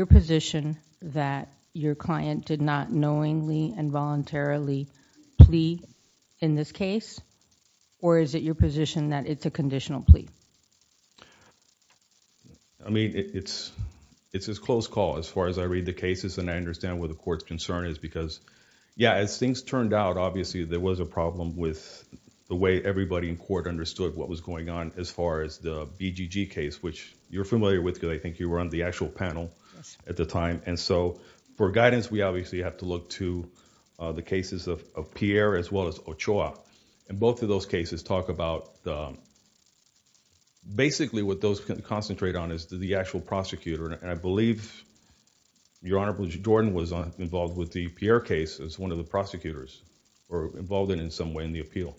your position that your client did not knowingly and voluntarily plea in this case or is it your position that it's a conditional plea? I mean it's it's a close call as far as I read the cases and I understand what the court's concern is because yeah as things turned out obviously there was a problem with the way everybody in court understood what was going on as far as the BGG case which you're familiar with because I think you were on the actual panel at the time and so for guidance we obviously have to look to the cases of Pierre as well as Ochoa and both of those cases talk about basically what those can concentrate on is the actual prosecutor and I believe your Honorable Jordan was on involved with the Pierre case as one of the prosecutors or involved in in some way in the appeal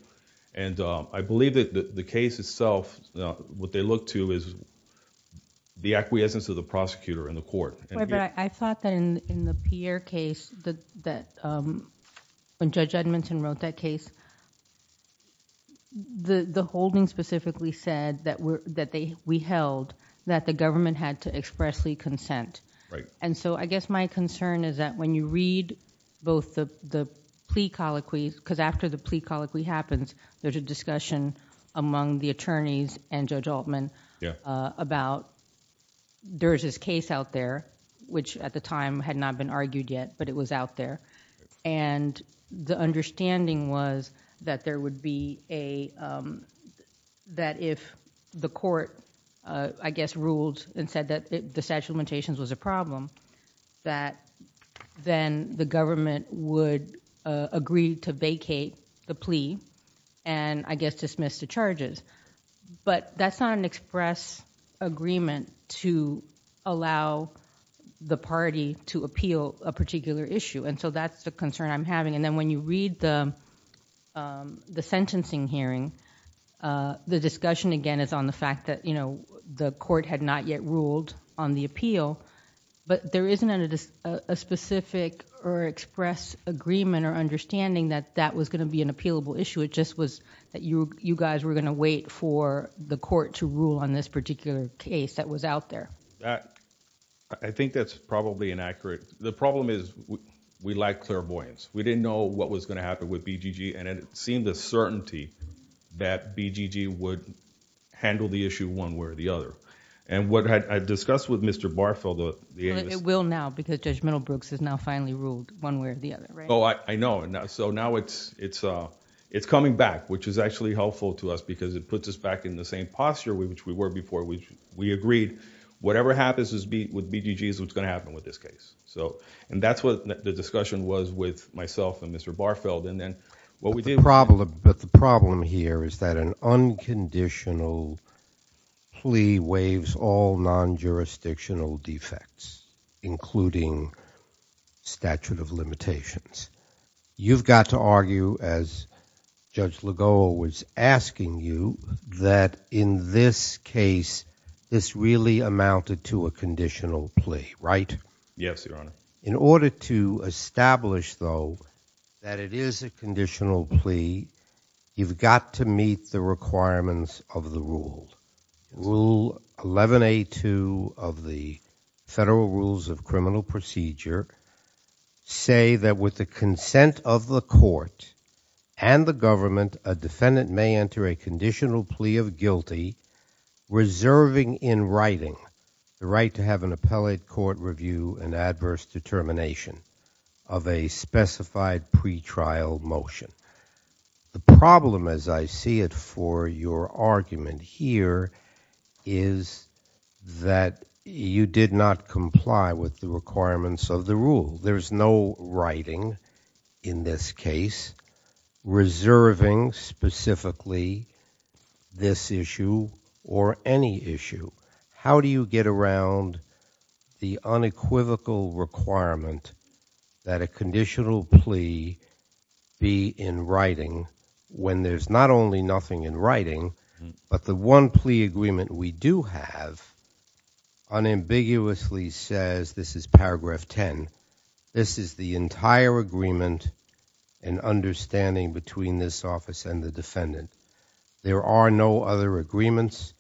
and I believe that the case itself what they look to is the acquiescence of the prosecutor in the court. I thought that in the Pierre case that when Judge Edmonton wrote that case the holding specifically said that we held that the government had to expressly consent and so I guess my concern is that when you read both the plea colloquies because after the plea colloquy happens there's a discussion among the attorneys and Judge Altman about there is this case out there which at the time had not been argued yet but it was out there and the understanding was that there would be a that if the court I guess ruled and said that the statute of limitations was a problem that then the government would agree to vacate the plea and I guess dismiss the charges but that's not an express agreement to allow the party to appeal a particular issue and so that's the concern I'm having and then when you read the the sentencing hearing the discussion again is on the fact that you know the court had not yet ruled on the appeal but there isn't a specific or understanding that that was going to be an appealable issue it just was that you you guys were going to wait for the court to rule on this particular case that was out there. I think that's probably inaccurate the problem is we like clairvoyance we didn't know what was going to happen with BGG and it seemed a certainty that BGG would handle the issue one way or the other and what I discussed with Mr. Barfield it will now because Judge and so now it's it's uh it's coming back which is actually helpful to us because it puts us back in the same posture we which we were before we we agreed whatever happens is beat with BGG is what's going to happen with this case so and that's what the discussion was with myself and Mr. Barfield and then what we did problem but the problem here is that an unconditional plea waives all non-jurisdictional defects including statute of limitations you've got to argue as Judge Lagoa was asking you that in this case this really amounted to a conditional plea right yes your honor in order to establish though that it is a conditional plea you've got to meet the requirements of the rule rule 11a2 of the federal rules of criminal procedure say that with the consent of the court and the government a defendant may enter a conditional plea of guilty reserving in writing the right to have an appellate court review and adverse determination of a specified pre-trial motion the problem as I see it for your argument here is that you did not comply with the requirements of the rule there's no writing in this case reserving specifically this issue or any issue how do you get around the unequivocal requirement that a conditional plea be in writing when there's not only nothing in writing but the one plea agreement we do have unambiguously says this is paragraph 10 this is the entire agreement and understanding between this office and the defendant there are no other agreements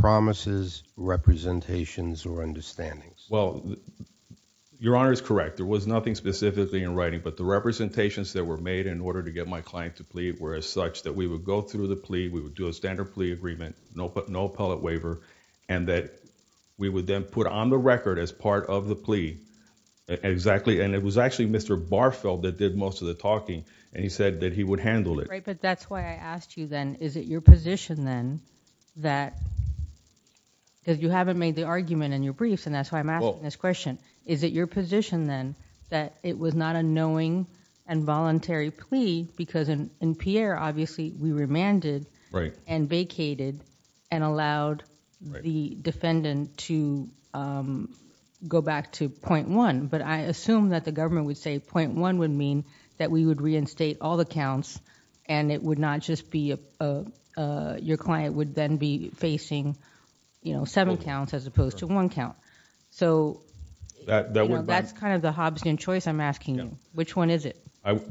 promises representations or understandings well your honor is correct there was nothing specifically in writing but the representations that were made in order to get my client to plead were as such that we would go through the plea we would do a standard plea agreement no but no appellate waiver and that we would then put on the record as part of the plea exactly and it was actually mr barfeld that did most of the talking and he said that he would handle it right but that's why i asked you then is it your position then that because you haven't made the argument in your briefs and that's why i'm asking this question is it your position then that it was not a knowing and voluntary plea because in in pierre obviously we remanded right and vacated and allowed the defendant to um go back to point one but i assume that the government would say point one would mean that we would reinstate all the counts and it would not just be a uh your client would then be facing you know seven counts as opposed to one count so that that's kind of the hobbsian choice i'm asking you which one is it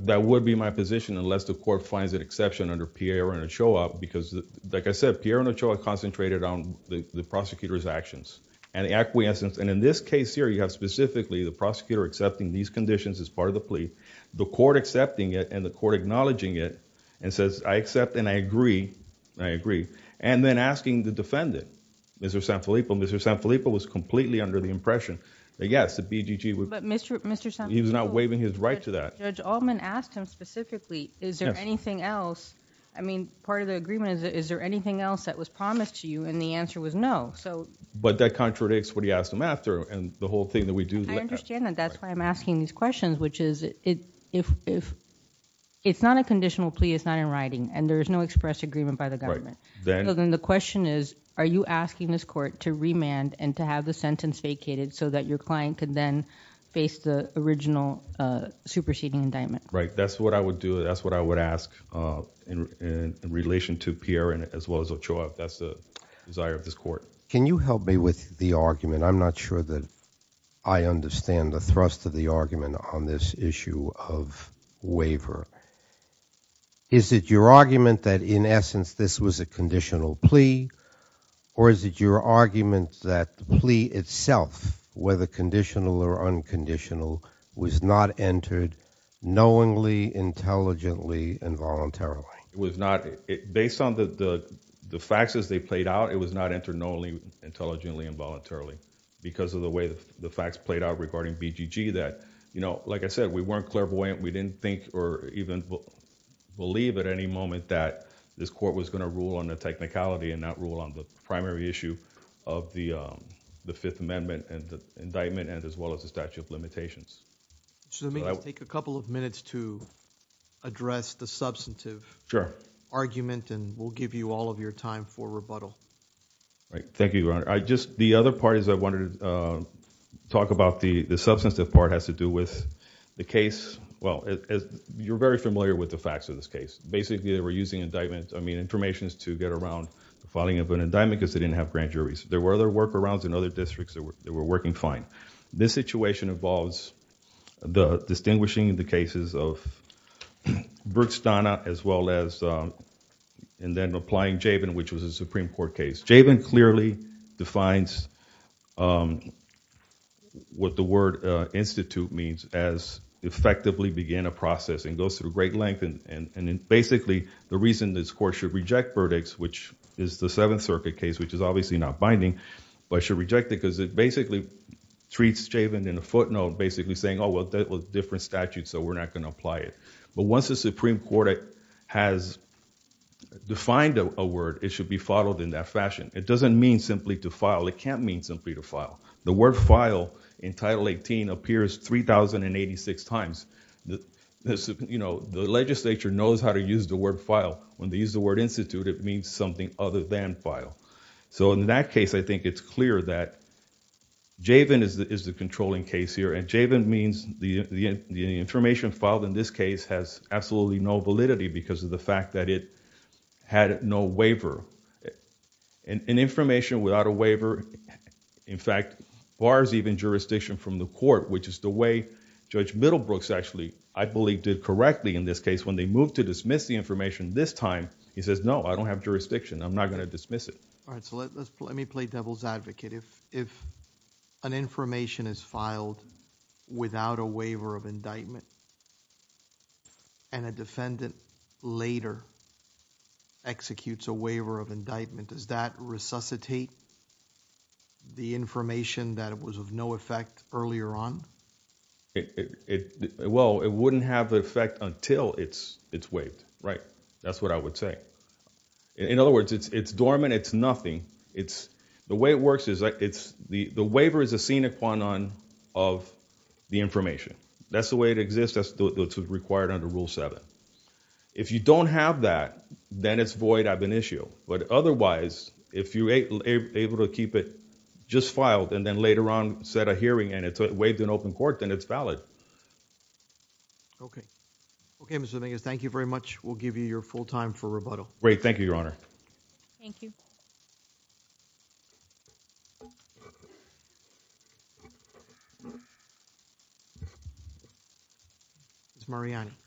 that would be my position unless the court finds an exception under pierre and a show-up because like i said pierre and a show-up concentrated on the prosecutor's actions and acquiescence and in this case here you have specifically the prosecutor accepting these conditions as part of the plea the court accepting it and the court acknowledging it and says i accept and i agree i agree and then asking the defendant mr sanfilippo mr sanfilippo was completely under the impression that yes the asked him specifically is there anything else i mean part of the agreement is there anything else that was promised to you and the answer was no so but that contradicts what he asked him after and the whole thing that we do i understand that that's why i'm asking these questions which is it if if it's not a conditional plea it's not in writing and there's no express agreement by the government then the question is are you asking this court to remand and to have the sentence vacated so that your client could then face the original uh superseding indictment right that's what i would do that's what i would ask uh in in relation to pierre and as well as a show-up that's the desire of this court can you help me with the argument i'm not sure that i understand the thrust of the argument on this issue of waiver is it your argument that in essence this was a conditional plea or is it your argument that the plea itself whether conditional or unconditional was not entered knowingly intelligently and voluntarily it was not it based on the the the facts as they played out it was not entered knowingly intelligently and voluntarily because of the way the facts played out regarding bgg that you know like i said we weren't clairvoyant we didn't think or even believe at any moment that this court was going to rule on the technicality and not rule on the primary issue of the um the fifth amendment and the indictment and as well as the statute of limitations so let me take a couple of minutes to address the substantive sure argument and we'll give you all of your time for rebuttal right thank you your honor i just the other part is i you're very familiar with the facts of this case basically they were using indictment i mean information to get around the filing of an indictment because they didn't have grand juries there were other workarounds in other districts that were working fine this situation involves the distinguishing the cases of brutz donna as well as um and then applying jayvin which was a supreme court case jayvin clearly defines um what the word uh institute means as effectively begin a process and goes through great length and and and basically the reason this court should reject verdicts which is the seventh circuit case which is obviously not binding but should reject it because it basically treats jayvin in a footnote basically saying oh well that was different statute so we're not going to apply it but once the supreme court has defined a word it should be followed in that fashion it doesn't mean simply to file it can't the word file in title 18 appears 3086 times the you know the legislature knows how to use the word file when they use the word institute it means something other than file so in that case i think it's clear that jayvin is the controlling case here and jayvin means the information filed in this case has absolutely no validity because of the fact that it a waiver in fact bars even jurisdiction from the court which is the way judge middlebrooks actually i believe did correctly in this case when they moved to dismiss the information this time he says no i don't have jurisdiction i'm not going to dismiss it all right so let's let me play devil's advocate if if an information is filed without a waiver of indictment and a defendant later executes a waiver of indictment does that resuscitate the information that it was of no effect earlier on it it well it wouldn't have the effect until it's it's waived right that's what i would say in other words it's it's dormant it's nothing it's the way it works is like it's the the waiver is a scenic one on of the information that's the that's required under rule seven if you don't have that then it's void i've been issue but otherwise if you able to keep it just filed and then later on set a hearing and it's waived in open court then it's valid okay okay mr thing is thank you very much we'll give you your full time for rebuttal great thank you your honor thank you miss mariani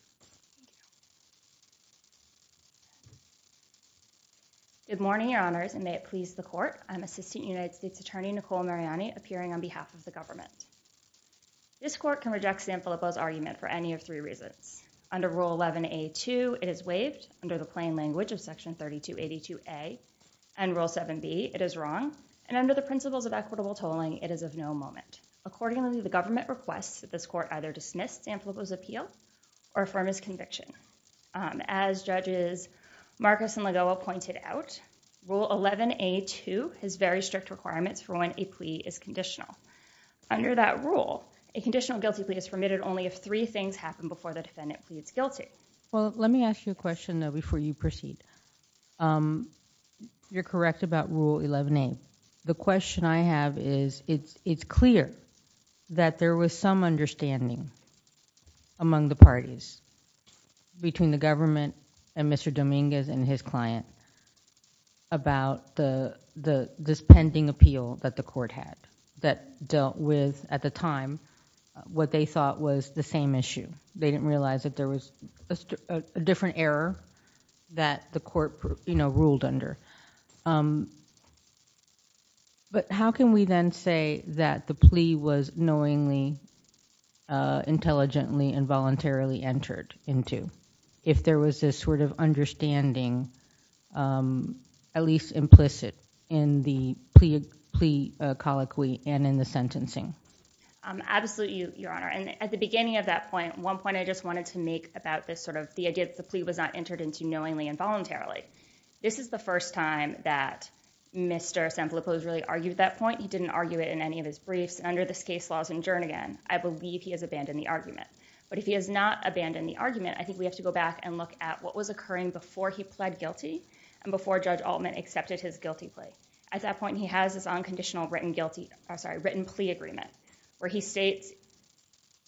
good morning your honors and may it please the court i'm assistant united states attorney nicole mariani appearing on behalf of the government this court can reject san filipo's argument for plain language of section 3282a and rule 7b it is wrong and under the principles of equitable tolling it is of no moment accordingly the government requests that this court either dismiss san filipo's appeal or affirm his conviction um as judges marcus and lagoa pointed out rule 11a2 has very strict requirements for when a plea is conditional under that rule a conditional guilty plea is permitted only if three things happen before the defendant pleads guilty well let me ask you a question though before you proceed um you're correct about rule 11a the question i have is it's it's clear that there was some understanding among the parties between the government and mr dominguez and his client about the the this pending appeal that the court had that dealt with at the time what they thought was the same issue they didn't realize that there was a different error that the court you know ruled under um but how can we then say that the plea was knowingly uh intelligently and voluntarily entered into if there was this sort of understanding um at least implicit in the plea plea uh colloquy and in the sentencing um absolutely your honor and at the beginning of that point one point i just wanted to make about this sort of the idea that the plea was not entered into knowingly and voluntarily this is the first time that mr san filipo's really argued that point he didn't argue it in any of his briefs under this case laws in jernigan i believe he has abandoned the argument but if he has not abandoned the argument i think we have to go back and look at what was occurring before he pled guilty and before judge altman accepted his guilty plea at that point he has this unconditional written guilty i'm sorry written plea agreement where he states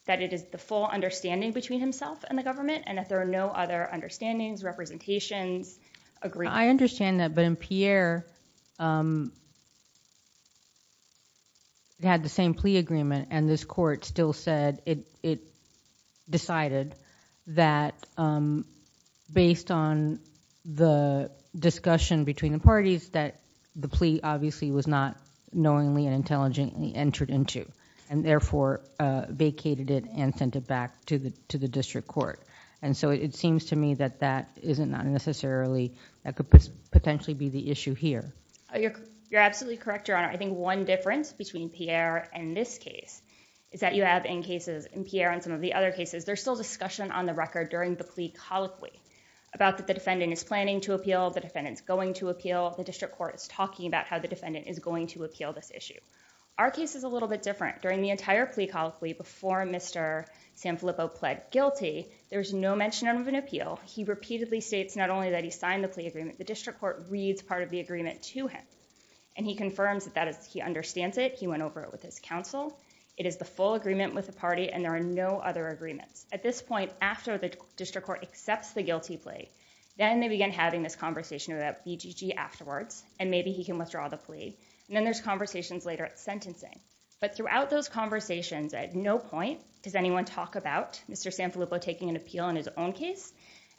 that it is the full understanding between himself and the government and that there are no other understandings representations agree i understand that but in pierre um they had the same plea agreement and this court still said it it decided that um based on the discussion between the parties that the plea obviously was not knowingly and intelligently entered into and therefore uh vacated it and sent it back to the to the district court and so it seems to me that that isn't not necessarily that could potentially be the issue here you're absolutely correct your honor i think one difference between pierre and this case is that you have in cases in pierre and some of the other cases there's still record during the plea colloquy about that the defendant is planning to appeal the defendant's going to appeal the district court is talking about how the defendant is going to appeal this issue our case is a little bit different during the entire plea colloquy before mr sanfilippo pled guilty there's no mention of an appeal he repeatedly states not only that he signed the plea agreement the district court reads part of the agreement to him and he confirms that that is he understands it he went over it with his counsel it is the full agreement with the agreements at this point after the district court accepts the guilty plea then they begin having this conversation about bgg afterwards and maybe he can withdraw the plea and then there's conversations later at sentencing but throughout those conversations at no point does anyone talk about mr sanfilippo taking an appeal in his own case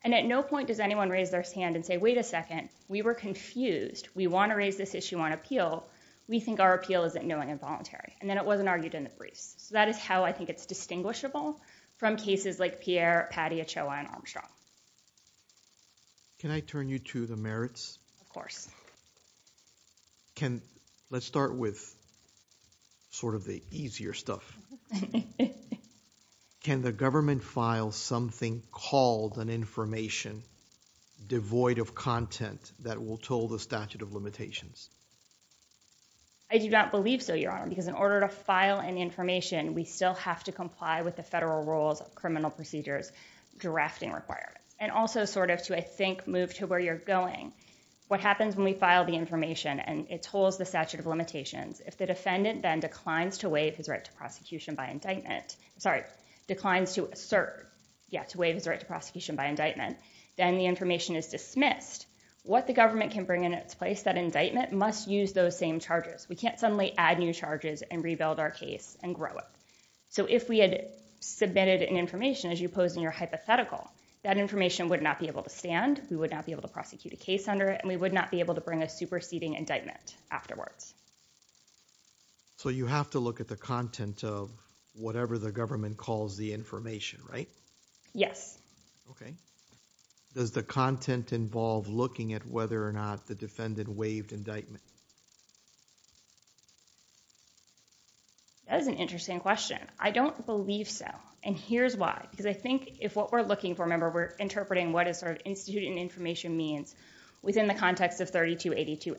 and at no point does anyone raise their hand and say wait a second we were confused we want to raise this issue on appeal we think our appeal isn't knowing and voluntary and then it wasn't argued in the briefs so that is how i think it's distinguishable from cases like pierre patty ochoa and armstrong can i turn you to the merits of course can let's start with sort of the easier stuff can the government file something called an information devoid of content that will toll the statute of limitations i do not believe so your honor because in order to file an information we still have to comply with the federal rules criminal procedures drafting requirements and also sort of to i think move to where you're going what happens when we file the information and it tolls the statute of limitations if the defendant then declines to waive his right to prosecution by indictment sorry declines to assert yeah to waive his right to prosecution by indictment then the information is dismissed what the government can bring in its place that indictment must use those same charges we can't suddenly add new charges and rebuild our case and grow it so if we had submitted an information as you posed in your hypothetical that information would not be able to stand we would not be able to prosecute a case under it and we would not be able to bring a superseding indictment afterwards so you have to look at the content of whatever the government calls the information right yes okay does the content involve looking at whether or not the defendant waived indictment that is an interesting question i don't believe so and here's why because i think if what we're looking for remember we're interpreting what is sort of institute and information means within the context of 3282a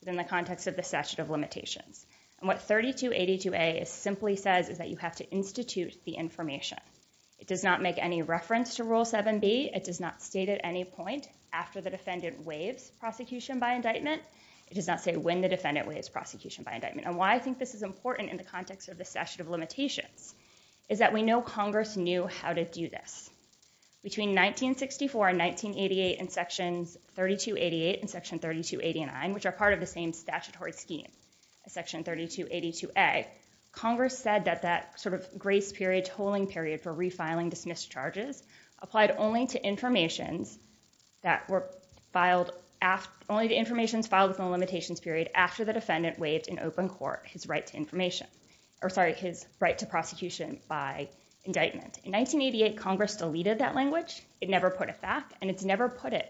within the context of the statute of limitations and what 3282a simply says is that you have to institute the information it does not make any reference to defendant waives prosecution by indictment it does not say when the defendant waives prosecution by indictment and why i think this is important in the context of the statute of limitations is that we know congress knew how to do this between 1964 and 1988 and sections 3288 and section 3289 which are part of the same statutory scheme section 3282a congress said that that sort of grace period tolling period for refiling dismissed charges applied only to informations that were filed after only the information is filed within the limitations period after the defendant waived in open court his right to information or sorry his right to prosecution by indictment in 1988 congress deleted that language it never put it back and it's never put it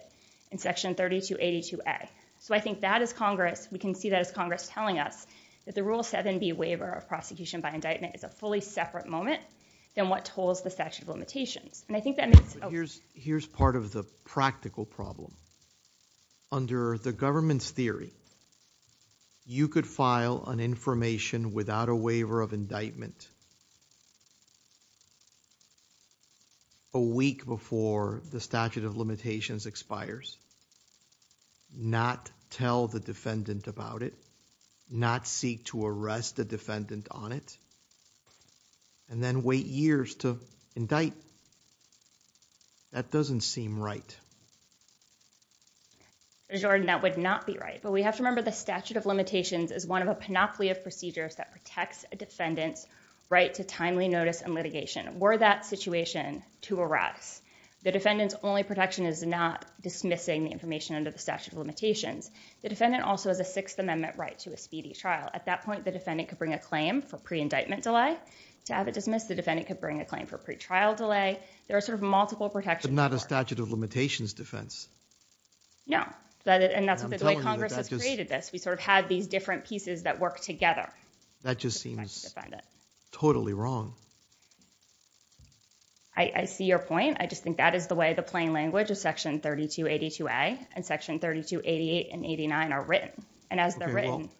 in section 3282a so i think that is congress we can see that as congress telling us that the rule 7b waiver of prosecution by indictment is a fully separate moment than what tolls the statute limitations and i think that here's here's part of the practical problem under the government's theory you could file an information without a waiver of indictment a week before the statute of limitations expires not tell the defendant about it not seek to arrest a defendant on it and then wait years to indict that doesn't seem right jordan that would not be right but we have to remember the statute of limitations is one of a panoply of procedures that protects a defendant's right to timely notice and litigation were that situation to arrest the defendant's only protection is not dismissing the information under the statute of limitations the defendant also has a sixth amendment right to a speedy trial at that point the defendant could bring a claim for pre-indictment delay to have it dismissed the defendant could bring a claim for pre-trial delay there are sort of multiple protections not a statute of limitations defense no but and that's what the way congress has created this we sort of had these different pieces that work together that just seems totally wrong i i see your point i just think that is the way the plain language of section 3282a and section 3288 and 89 are written and as they're written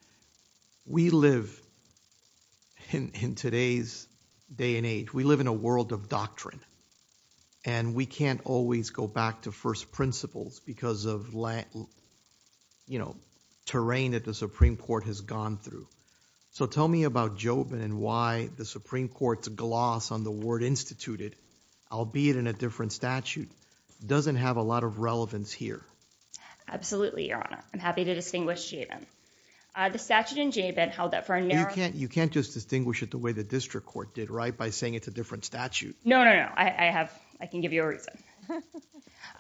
we live in in today's day and age we live in a world of doctrine and we can't always go back to first principles because of land you know terrain that the supreme court has gone through so tell me about joven and why the supreme court's gloss on the word instituted albeit in a different statute doesn't have a lot of relevance here absolutely your honor i'm happy to distinguish uh the statute in jay been held up for a narrow you can't you can't just distinguish it the way the district court did right by saying it's a different statute no no no i i have i can give you a reason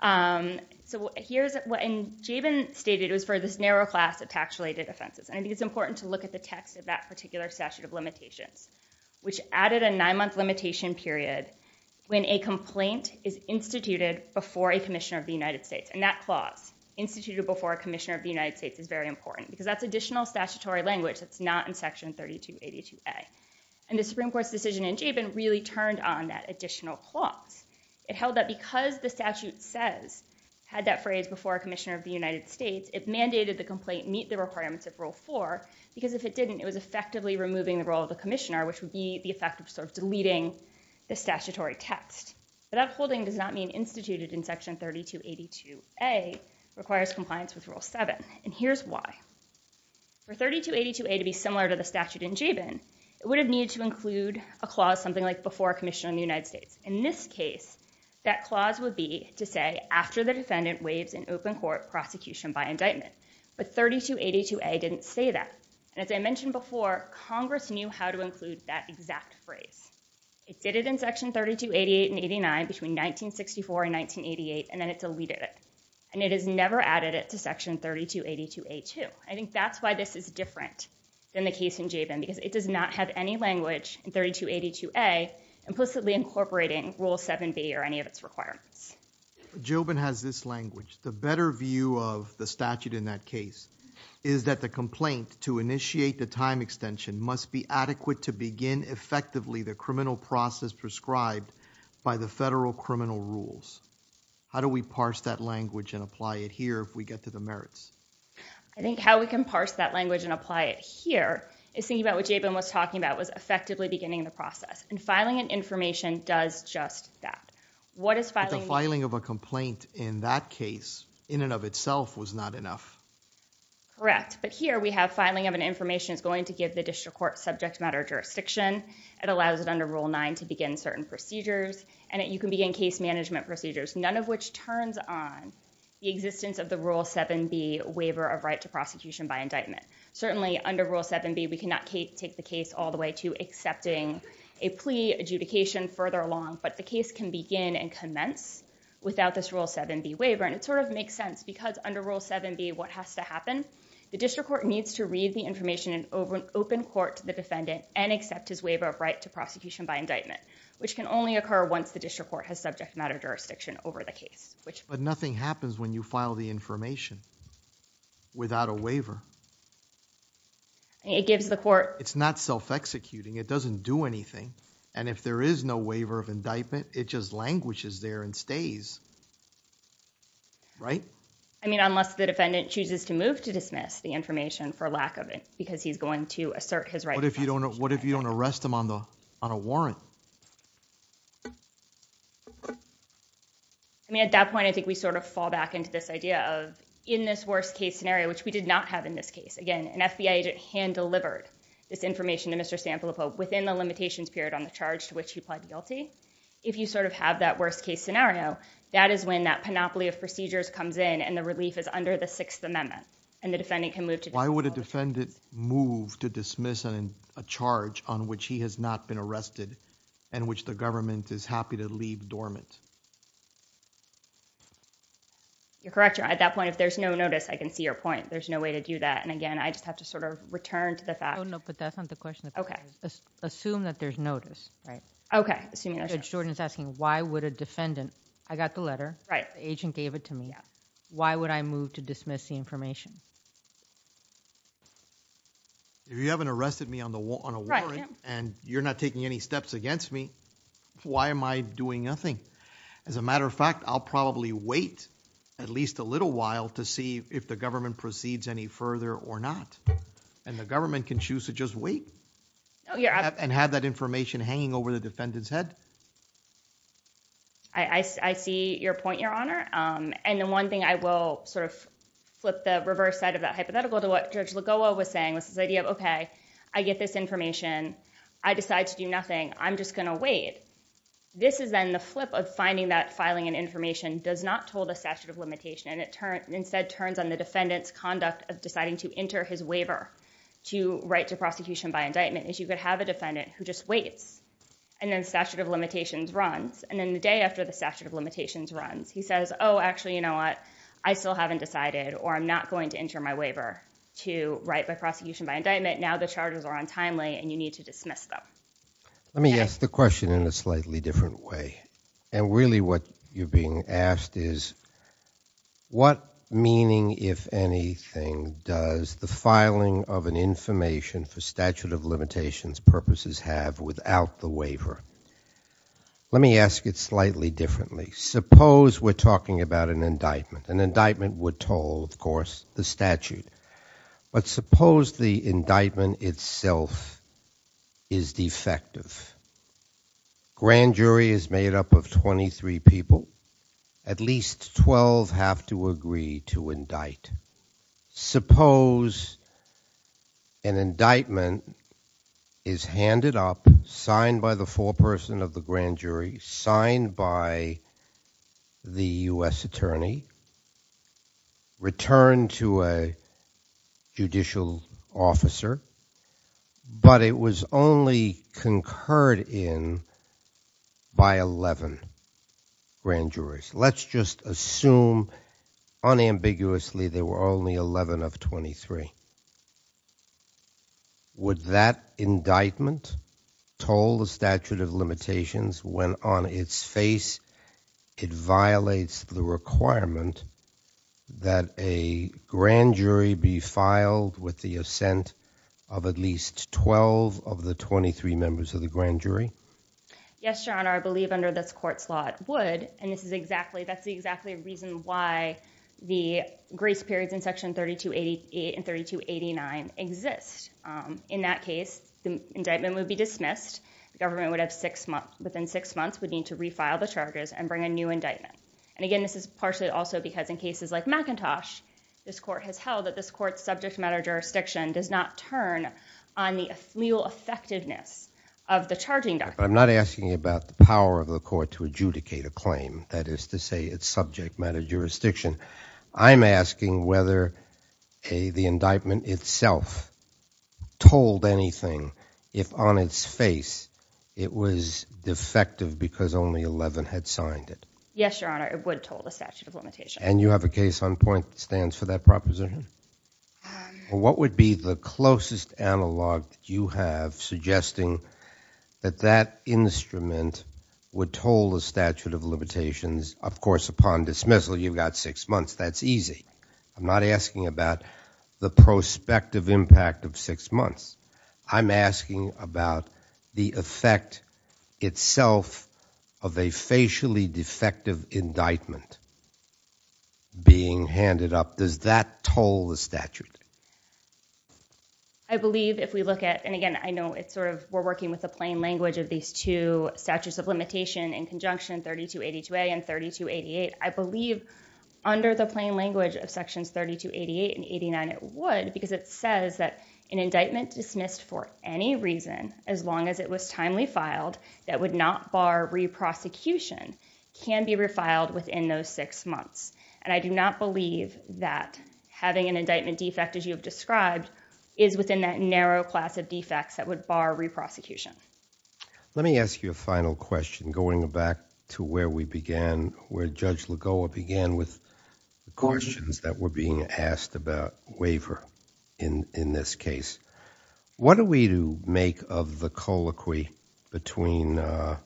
um so here's what jayvin stated was for this narrow class of tax related offenses i think it's important to look at the text of that particular statute of limitations which added a nine-month limitation period when a complaint is instituted before a commissioner of the united states and that clause instituted before a commissioner of the united states is very important because that's additional statutory language that's not in section 3282a and the supreme court's decision in jayvin really turned on that additional clause it held that because the statute says had that phrase before a commissioner of the united states it mandated the complaint meet the requirements of rule four because if it didn't it was effectively removing the role of the commissioner which would be the effect of sort of deleting the statutory text but that holding does not mean instituted in section 3282a requires compliance with rule 7 and here's why for 3282a to be similar to the statute in jayvin it would have needed to include a clause something like before commission in the united states in this case that clause would be to say after the defendant waives an open court prosecution by indictment but 3282a didn't say that and as i mentioned before congress knew how to include that exact phrase it did it in section 3288 and 89 between 1964 and 1988 and then it deleted it and it has never added it to section 3282a too i think that's why this is different than the case in jayvin because it does not have any language in 3282a implicitly incorporating rule 7b or any of its requirements jobin has this language the better view of the statute in that case is that the complaint to initiate the time extension must be adequate to begin effectively the criminal process prescribed by the federal criminal rules how do we parse that language and apply it here if we get to the merits i think how we can parse that language and apply it here is thinking about what jayvin was talking about was effectively beginning the process and filing an information does just that what is filing the filing of a complaint in that case in and of itself was not enough correct but here we have filing of information is going to give the district court subject matter jurisdiction it allows it under rule 9 to begin certain procedures and you can begin case management procedures none of which turns on the existence of the rule 7b waiver of right to prosecution by indictment certainly under rule 7b we cannot take the case all the way to accepting a plea adjudication further along but the case can begin and commence without this rule 7b waiver and it sort of makes sense because under rule 7b what has to happen the district court needs to read the information in over an open court to the defendant and accept his waiver of right to prosecution by indictment which can only occur once the district court has subject matter jurisdiction over the case which but nothing happens when you file the information without a waiver it gives the court it's not self-executing it doesn't do anything and if there is no waiver of indictment it just languishes there and stays right i mean unless the defendant chooses to move to dismiss the information for lack of it because he's going to assert his right what if you don't know what if you don't arrest him on the on a warrant i mean at that point i think we sort of fall back into this idea of in this worst case scenario which we did not have in this case again an fbi agent hand delivered this information to mr sample the pope within the limitations period on the charge to which he pled guilty if you sort of have that worst case scenario that is when that panoply of procedures comes in and the relief is under the sixth amendment and the defendant can move to why would a defendant move to dismiss a charge on which he has not been arrested and which the government is happy to leave dormant you're correct you're at that point if there's no notice i can see your point there's no way to do that and again i just have to sort of return to the fact oh no but that's not the notice right okay assuming jordan's asking why would a defendant i got the letter right agent gave it to me why would i move to dismiss the information if you haven't arrested me on the wall on a warrant and you're not taking any steps against me why am i doing nothing as a matter of fact i'll probably wait at least a little while to see if the government proceeds any further or not and the government can choose to just wait oh yeah and have that information hanging over the defendant's head i i see your point your honor um and the one thing i will sort of flip the reverse side of that hypothetical to what judge lagoa was saying was this idea of okay i get this information i decide to do nothing i'm just gonna wait this is then the flip of finding that filing and information does not hold a statute of limitation and it turned instead turns on the defendant's conduct deciding to enter his waiver to write to prosecution by indictment is you could have a defendant who just waits and then statute of limitations runs and then the day after the statute of limitations runs he says oh actually you know what i still haven't decided or i'm not going to enter my waiver to write by prosecution by indictment now the charges are untimely and you need to dismiss them let me ask the question in a slightly different way and really what you're asked is what meaning if anything does the filing of an information for statute of limitations purposes have without the waiver let me ask it slightly differently suppose we're talking about an indictment an indictment would toll of course the statute but suppose the indictment itself is defective grand jury is made up of 23 people at least 12 have to agree to indict suppose an indictment is handed up signed by the foreperson of the grand jury signed by the u.s attorney returned to a judicial officer but it was only concurred in by 11 grand jurors let's just assume unambiguously there were only 11 of 23 would that indictment toll the statute of limitations when on its face it violates the requirement that a grand jury be filed with the assent of at least 12 of the 23 members of the grand jury yes your honor i believe under this court's law it would and this is exactly that's 3288 and 3289 exist in that case the indictment would be dismissed the government would have six months within six months would need to refile the charges and bring a new indictment and again this is partially also because in cases like mackintosh this court has held that this court's subject matter jurisdiction does not turn on the real effectiveness of the charging document i'm not asking about the power of the court to adjudicate a claim that is to say it's subject matter jurisdiction i'm asking whether a the indictment itself told anything if on its face it was defective because only 11 had signed it yes your honor it would toll the statute of limitation and you have a case on point that stands for that proposition what would be the closest analog that you have suggesting that that instrument would toll the statute of limitations of course upon dismissal you've got six months that's easy i'm not asking about the prospective impact of six months i'm asking about the effect itself of a facially defective indictment being handed up does that toll the statute i believe if we look at and again i know it's sort of we're working with the plain language of these two statutes of limitation in conjunction 3282a and 3288 i believe under the plain language of sections 3288 and 89 it would because it says that an indictment dismissed for any reason as long as it was timely filed that would not bar re-prosecution can be refiled within those six months and i do not believe that having an indictment defect as you described is within that narrow class of defects that would bar re-prosecution let me ask you a final question going back to where we began where judge lagoa began with questions that were being asked about waiver in in this case what do we do make of the colloquy between uh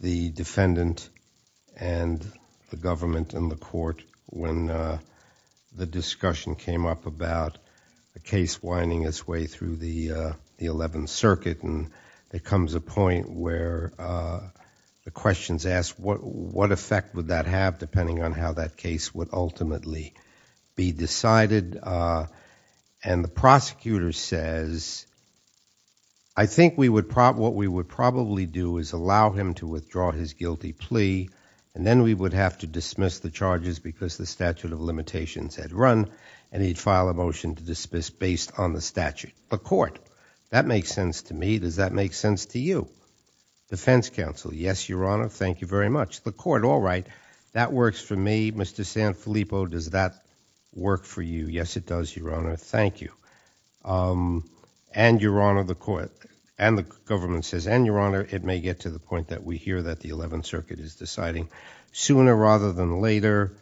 the defendant and the government and the court when uh the discussion came up about the case winding its way through the uh the 11th circuit and there comes a point where uh the questions asked what what effect would that have depending on how that case would ultimately be decided uh and the prosecutor says i think we would prop what we would probably do is allow him to withdraw his guilty plea and then we would have to dismiss the charges because the statute of limitations had run and he'd file a motion to dismiss based on the statute the court that makes sense to me does that make sense to you defense counsel yes your honor thank you very much the that work for you yes it does your honor thank you um and your honor the court and the government says and your honor it may get to the point that we hear that the 11th circuit is deciding sooner rather than later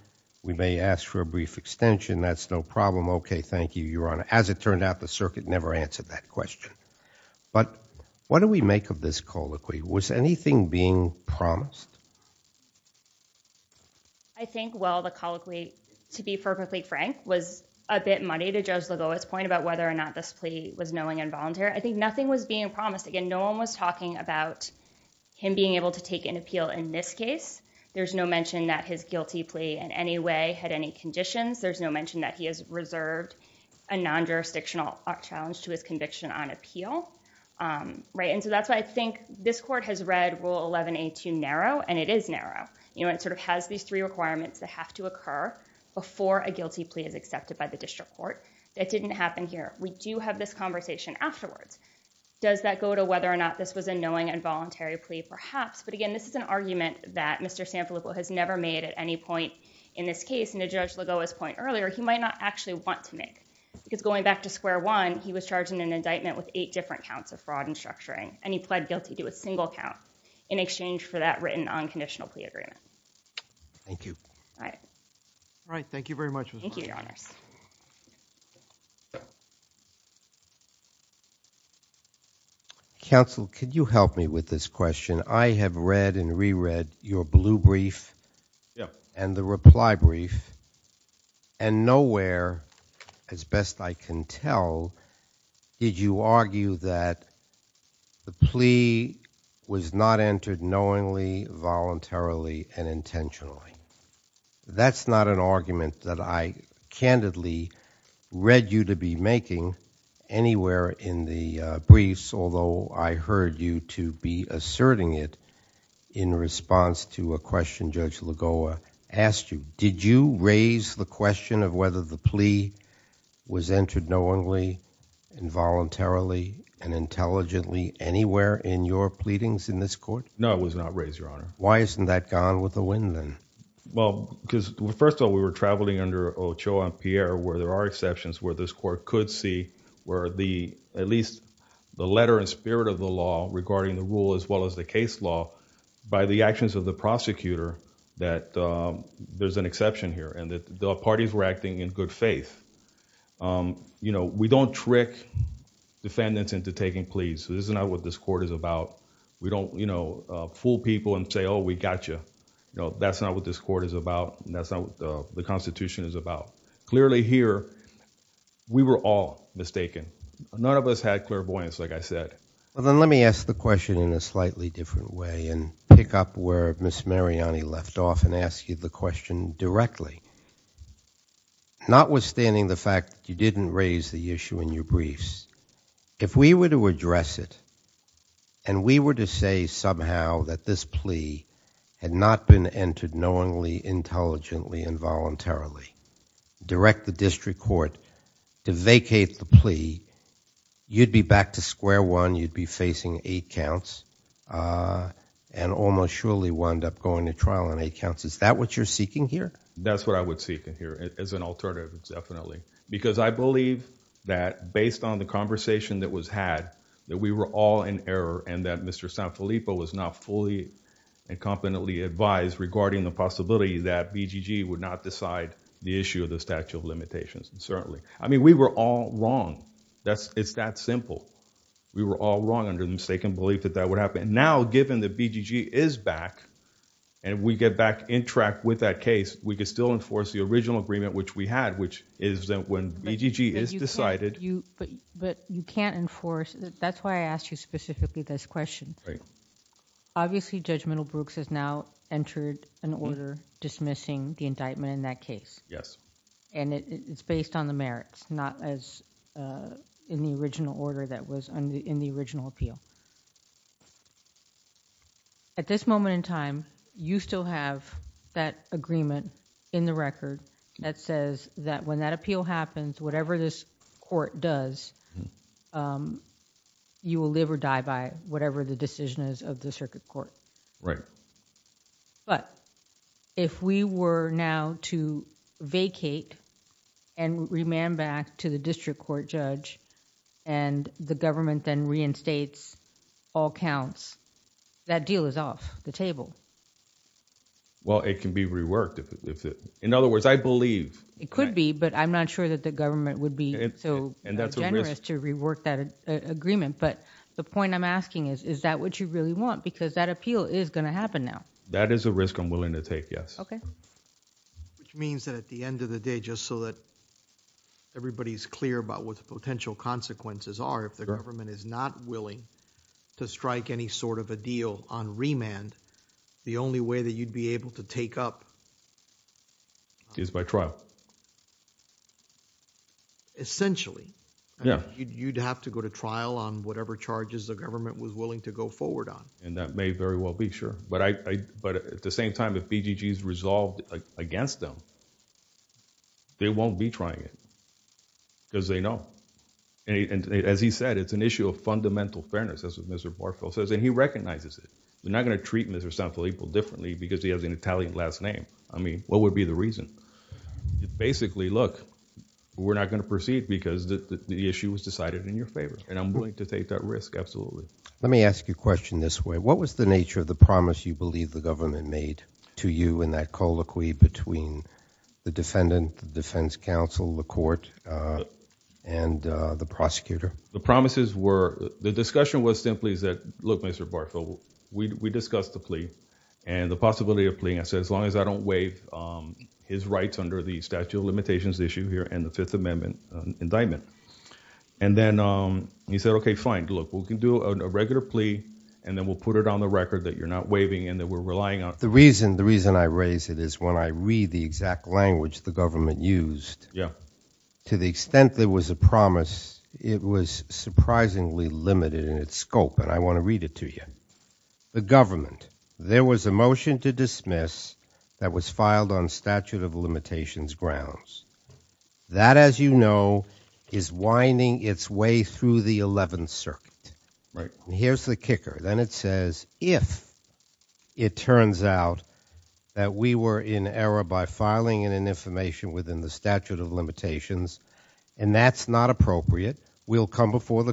we may ask for a brief extension that's no problem okay thank you your honor as it turned out the circuit never answered that question but what do we make of this colloquy was anything being promised i think well the colloquy to be perfectly frank was a bit muddy to judge lagoa's point about whether or not this plea was knowing and volunteer i think nothing was being promised again no one was talking about him being able to take an appeal in this case there's no mention that his guilty plea in any way had any conditions there's no mention that he has reserved a non-jurisdictional challenge to his conviction on appeal um right and so that's i think this court has read rule 11a2 narrow and it is narrow you know it sort of has these three requirements that have to occur before a guilty plea is accepted by the district court that didn't happen here we do have this conversation afterwards does that go to whether or not this was a knowing and voluntary plea perhaps but again this is an argument that mr sanfalico has never made at any point in this case and a judge lagoa's point earlier he might not actually want to make because going back to square one he was charged in an indictment with eight different counts of a single count in exchange for that written unconditional plea agreement thank you all right all right thank you very much thank you your honors counsel could you help me with this question i have read and reread your blue brief yeah and reply brief and nowhere as best i can tell did you argue that the plea was not entered knowingly voluntarily and intentionally that's not an argument that i candidly read you to be making anywhere in the briefs although i heard you to be asserting it in response to a question judge lagoa asked you did you raise the question of whether the plea was entered knowingly involuntarily and intelligently anywhere in your pleadings in this court no it was not raised your honor why isn't that gone with the wind then well because first of all we were traveling under ochoa and pierre where there are exceptions where this court could see where the at least the letter and spirit of the law regarding the rule as well as the case law by the actions of the prosecutor that there's an exception here and that the parties were acting in good faith you know we don't trick defendants into taking pleas this is not what this court is about we don't you know fool people and say oh we got you you know that's not what this court is about that's not what the constitution is about clearly here we were all mistaken none of us had clairvoyance like i said well then let me ask the question in a slightly different way and pick up where miss mariani left off and ask you the question directly notwithstanding the fact you didn't raise the issue in your briefs if we were to address it and we were to say somehow that this plea had not been entered knowingly intelligently involuntarily direct the district court to vacate the plea you'd be back to square one you'd be facing eight counts uh and almost surely wound up going to trial on eight counts is that what you're seeking here that's what i would seek in here as an alternative definitely because i believe that based on the conversation that was had that we were all in error and that mr sanfilippo was not fully and competently advised regarding the possibility that bgg would not decide the issue of the statute of limitations and certainly i mean we were all wrong that's it's that simple we were all wrong under mistaken belief that that would happen now given the bgg is back and we get back in track with that case we could still enforce the original agreement which we had which is that when bgg is decided you but you can't enforce that's why i asked you specifically this question right obviously judge middlebrooks has entered an order dismissing the indictment in that case yes and it's based on the merits not as in the original order that was in the original appeal at this moment in time you still have that agreement in the record that says that when that appeal happens whatever this court does um you will live or die by whatever the decision is of the circuit court right but if we were now to vacate and remand back to the district court judge and the government then reinstates all counts that deal is off the table well it can be reworked if in other words i believe it could be but i'm not sure that the government would be so generous to rework that agreement but the point i'm asking is is that what you really want because that appeal is going to happen now that is a risk i'm willing to take yes okay which means that at the end of the day just so that everybody's clear about what the potential consequences are if the government is not willing to strike any sort of a deal on remand the only way that you'd be able to take up is by trial essentially yeah you'd have to go to trial on whatever charges the government was willing to go forward on and that may very well be sure but i i but at the same time if bgg is resolved against them they won't be trying it because they know and as he said it's an issue of fundamental fairness that's what mr barfield says and he recognizes it they're not going to treat mr san felipe differently because he has an italian last name i mean what would be the reason basically look we're not going to proceed because the issue was decided in your favor and i'm willing to take that risk absolutely let me ask you a question this way what was the nature of the promise you believe the government made to you in that colloquy between the defendant the defense council the court uh and uh the prosecutor the promises were the discussion was simply that look mr barfield we discussed the plea and the possibility of pleading i said as long as i don't waive um his rights under the statute of limitations issue here and the fifth amendment indictment and then um he said okay fine look we can do a regular plea and then we'll put it on the record that you're not waiving and that we're relying on the reason the reason i raise it is when i read the exact language the government used yeah to the extent there was a promise it was surprisingly limited in its scope and i want to read it to you the government there was a motion to dismiss that was filed on statute of limitations grounds that as you know is winding its way through the 11th circuit right here's the kicker then it says if it turns out that we were in error by filing in an information within the statute of limitations and that's not appropriate we'll come before the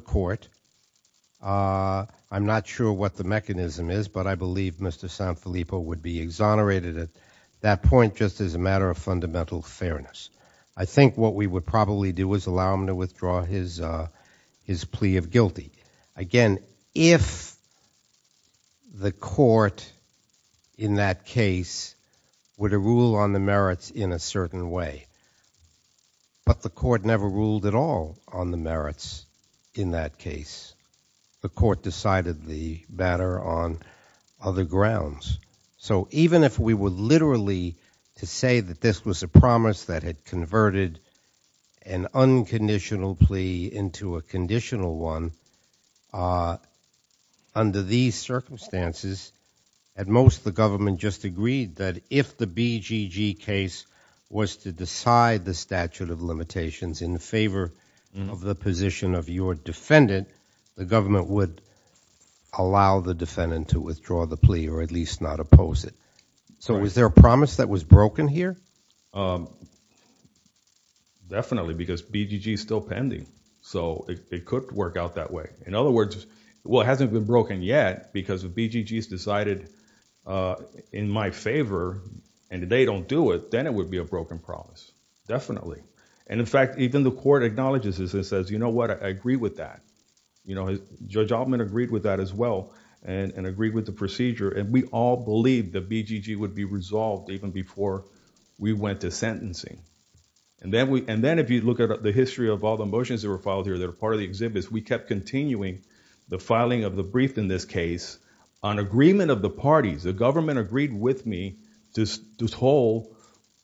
that point just as a matter of fundamental fairness i think what we would probably do is allow him to withdraw his uh his plea of guilty again if the court in that case were to rule on the merits in a certain way but the court never ruled at all on the merits in that case the court decided the matter on other grounds so even if we were literally to say that this was a promise that had converted an unconditional plea into a conditional one under these circumstances at most the government just agreed that if the bgg case was to decide the statute of limitations in favor of the position of your defendant the government would allow the defendant to withdraw the plea or at least not oppose it so was there a promise that was broken here um definitely because bgg is still pending so it could work out that way in other words well it hasn't been broken yet because if bggs decided uh in my favor and they don't do it then it would be a broken promise definitely and in fact even the court acknowledges this and says you know what i agree with that you know judge altman agreed with that as well and and agreed with the procedure and we all believed that bgg would be resolved even before we went to sentencing and then we and then if you look at the history of all the motions that were filed here that are part of the exhibits we kept continuing the filing of the brief in this case on agreement of the parties the government agreed with me to just hold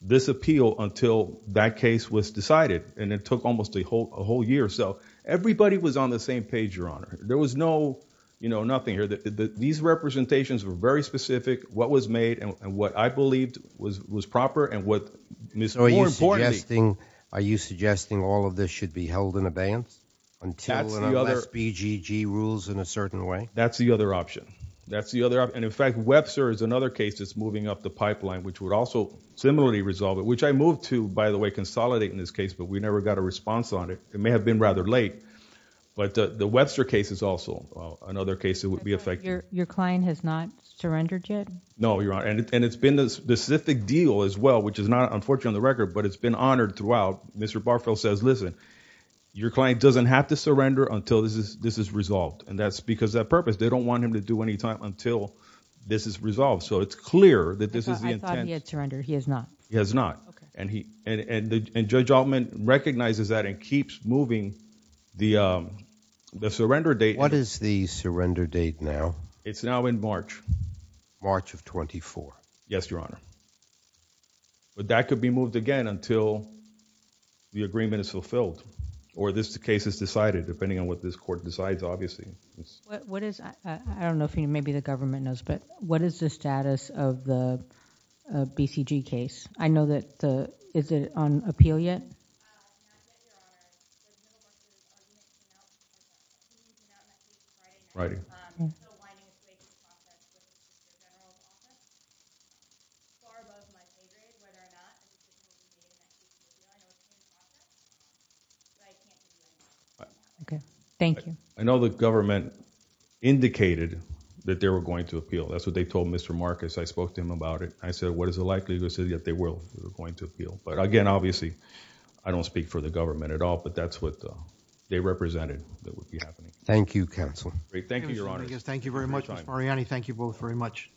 this appeal until that case was decided and it took almost a whole a whole year so everybody was on the same page your honor there was no you know nothing here that these representations were very specific what was made and what i believed was was proper and what more importantly are you suggesting all of this should be held in abeyance until and unless bgg rules in a certain way that's the other option that's the other and in fact webster is another case that's moving up the pipeline which would also similarly resolve it which i moved to by the way consolidate in this case but we never got a response on it it may have been rather late but the webster case is also another case that would be affected your client has not surrendered yet no you're on and it's been a specific deal as well which is not unfortunately on the record but it's been honored throughout mr barfield says listen your client doesn't have to surrender until this is this is resolved and that's because that purpose they don't want him to do any time until this is resolved so it's clear that this is the intent to render he has not he has not okay and he and and judge altman recognizes that and keeps moving the um the surrender date what is the surrender date now it's now in march march of 24 yes your honor but that could be moved again until the agreement is fulfilled or this case is decided depending on what this court decides obviously what is i i don't know if you maybe the government knows but what is the status of the bcg case i know that the is it on appeal yet um okay thank you i know the government indicated that they were going to appeal that's what they told mr marcus i spoke to him about it i said what is the likelihood that they will they were again obviously i don't speak for the government at all but that's what they represented that would be happening thank you counselor great thank you your honor thank you very much mr mariani thank you both very much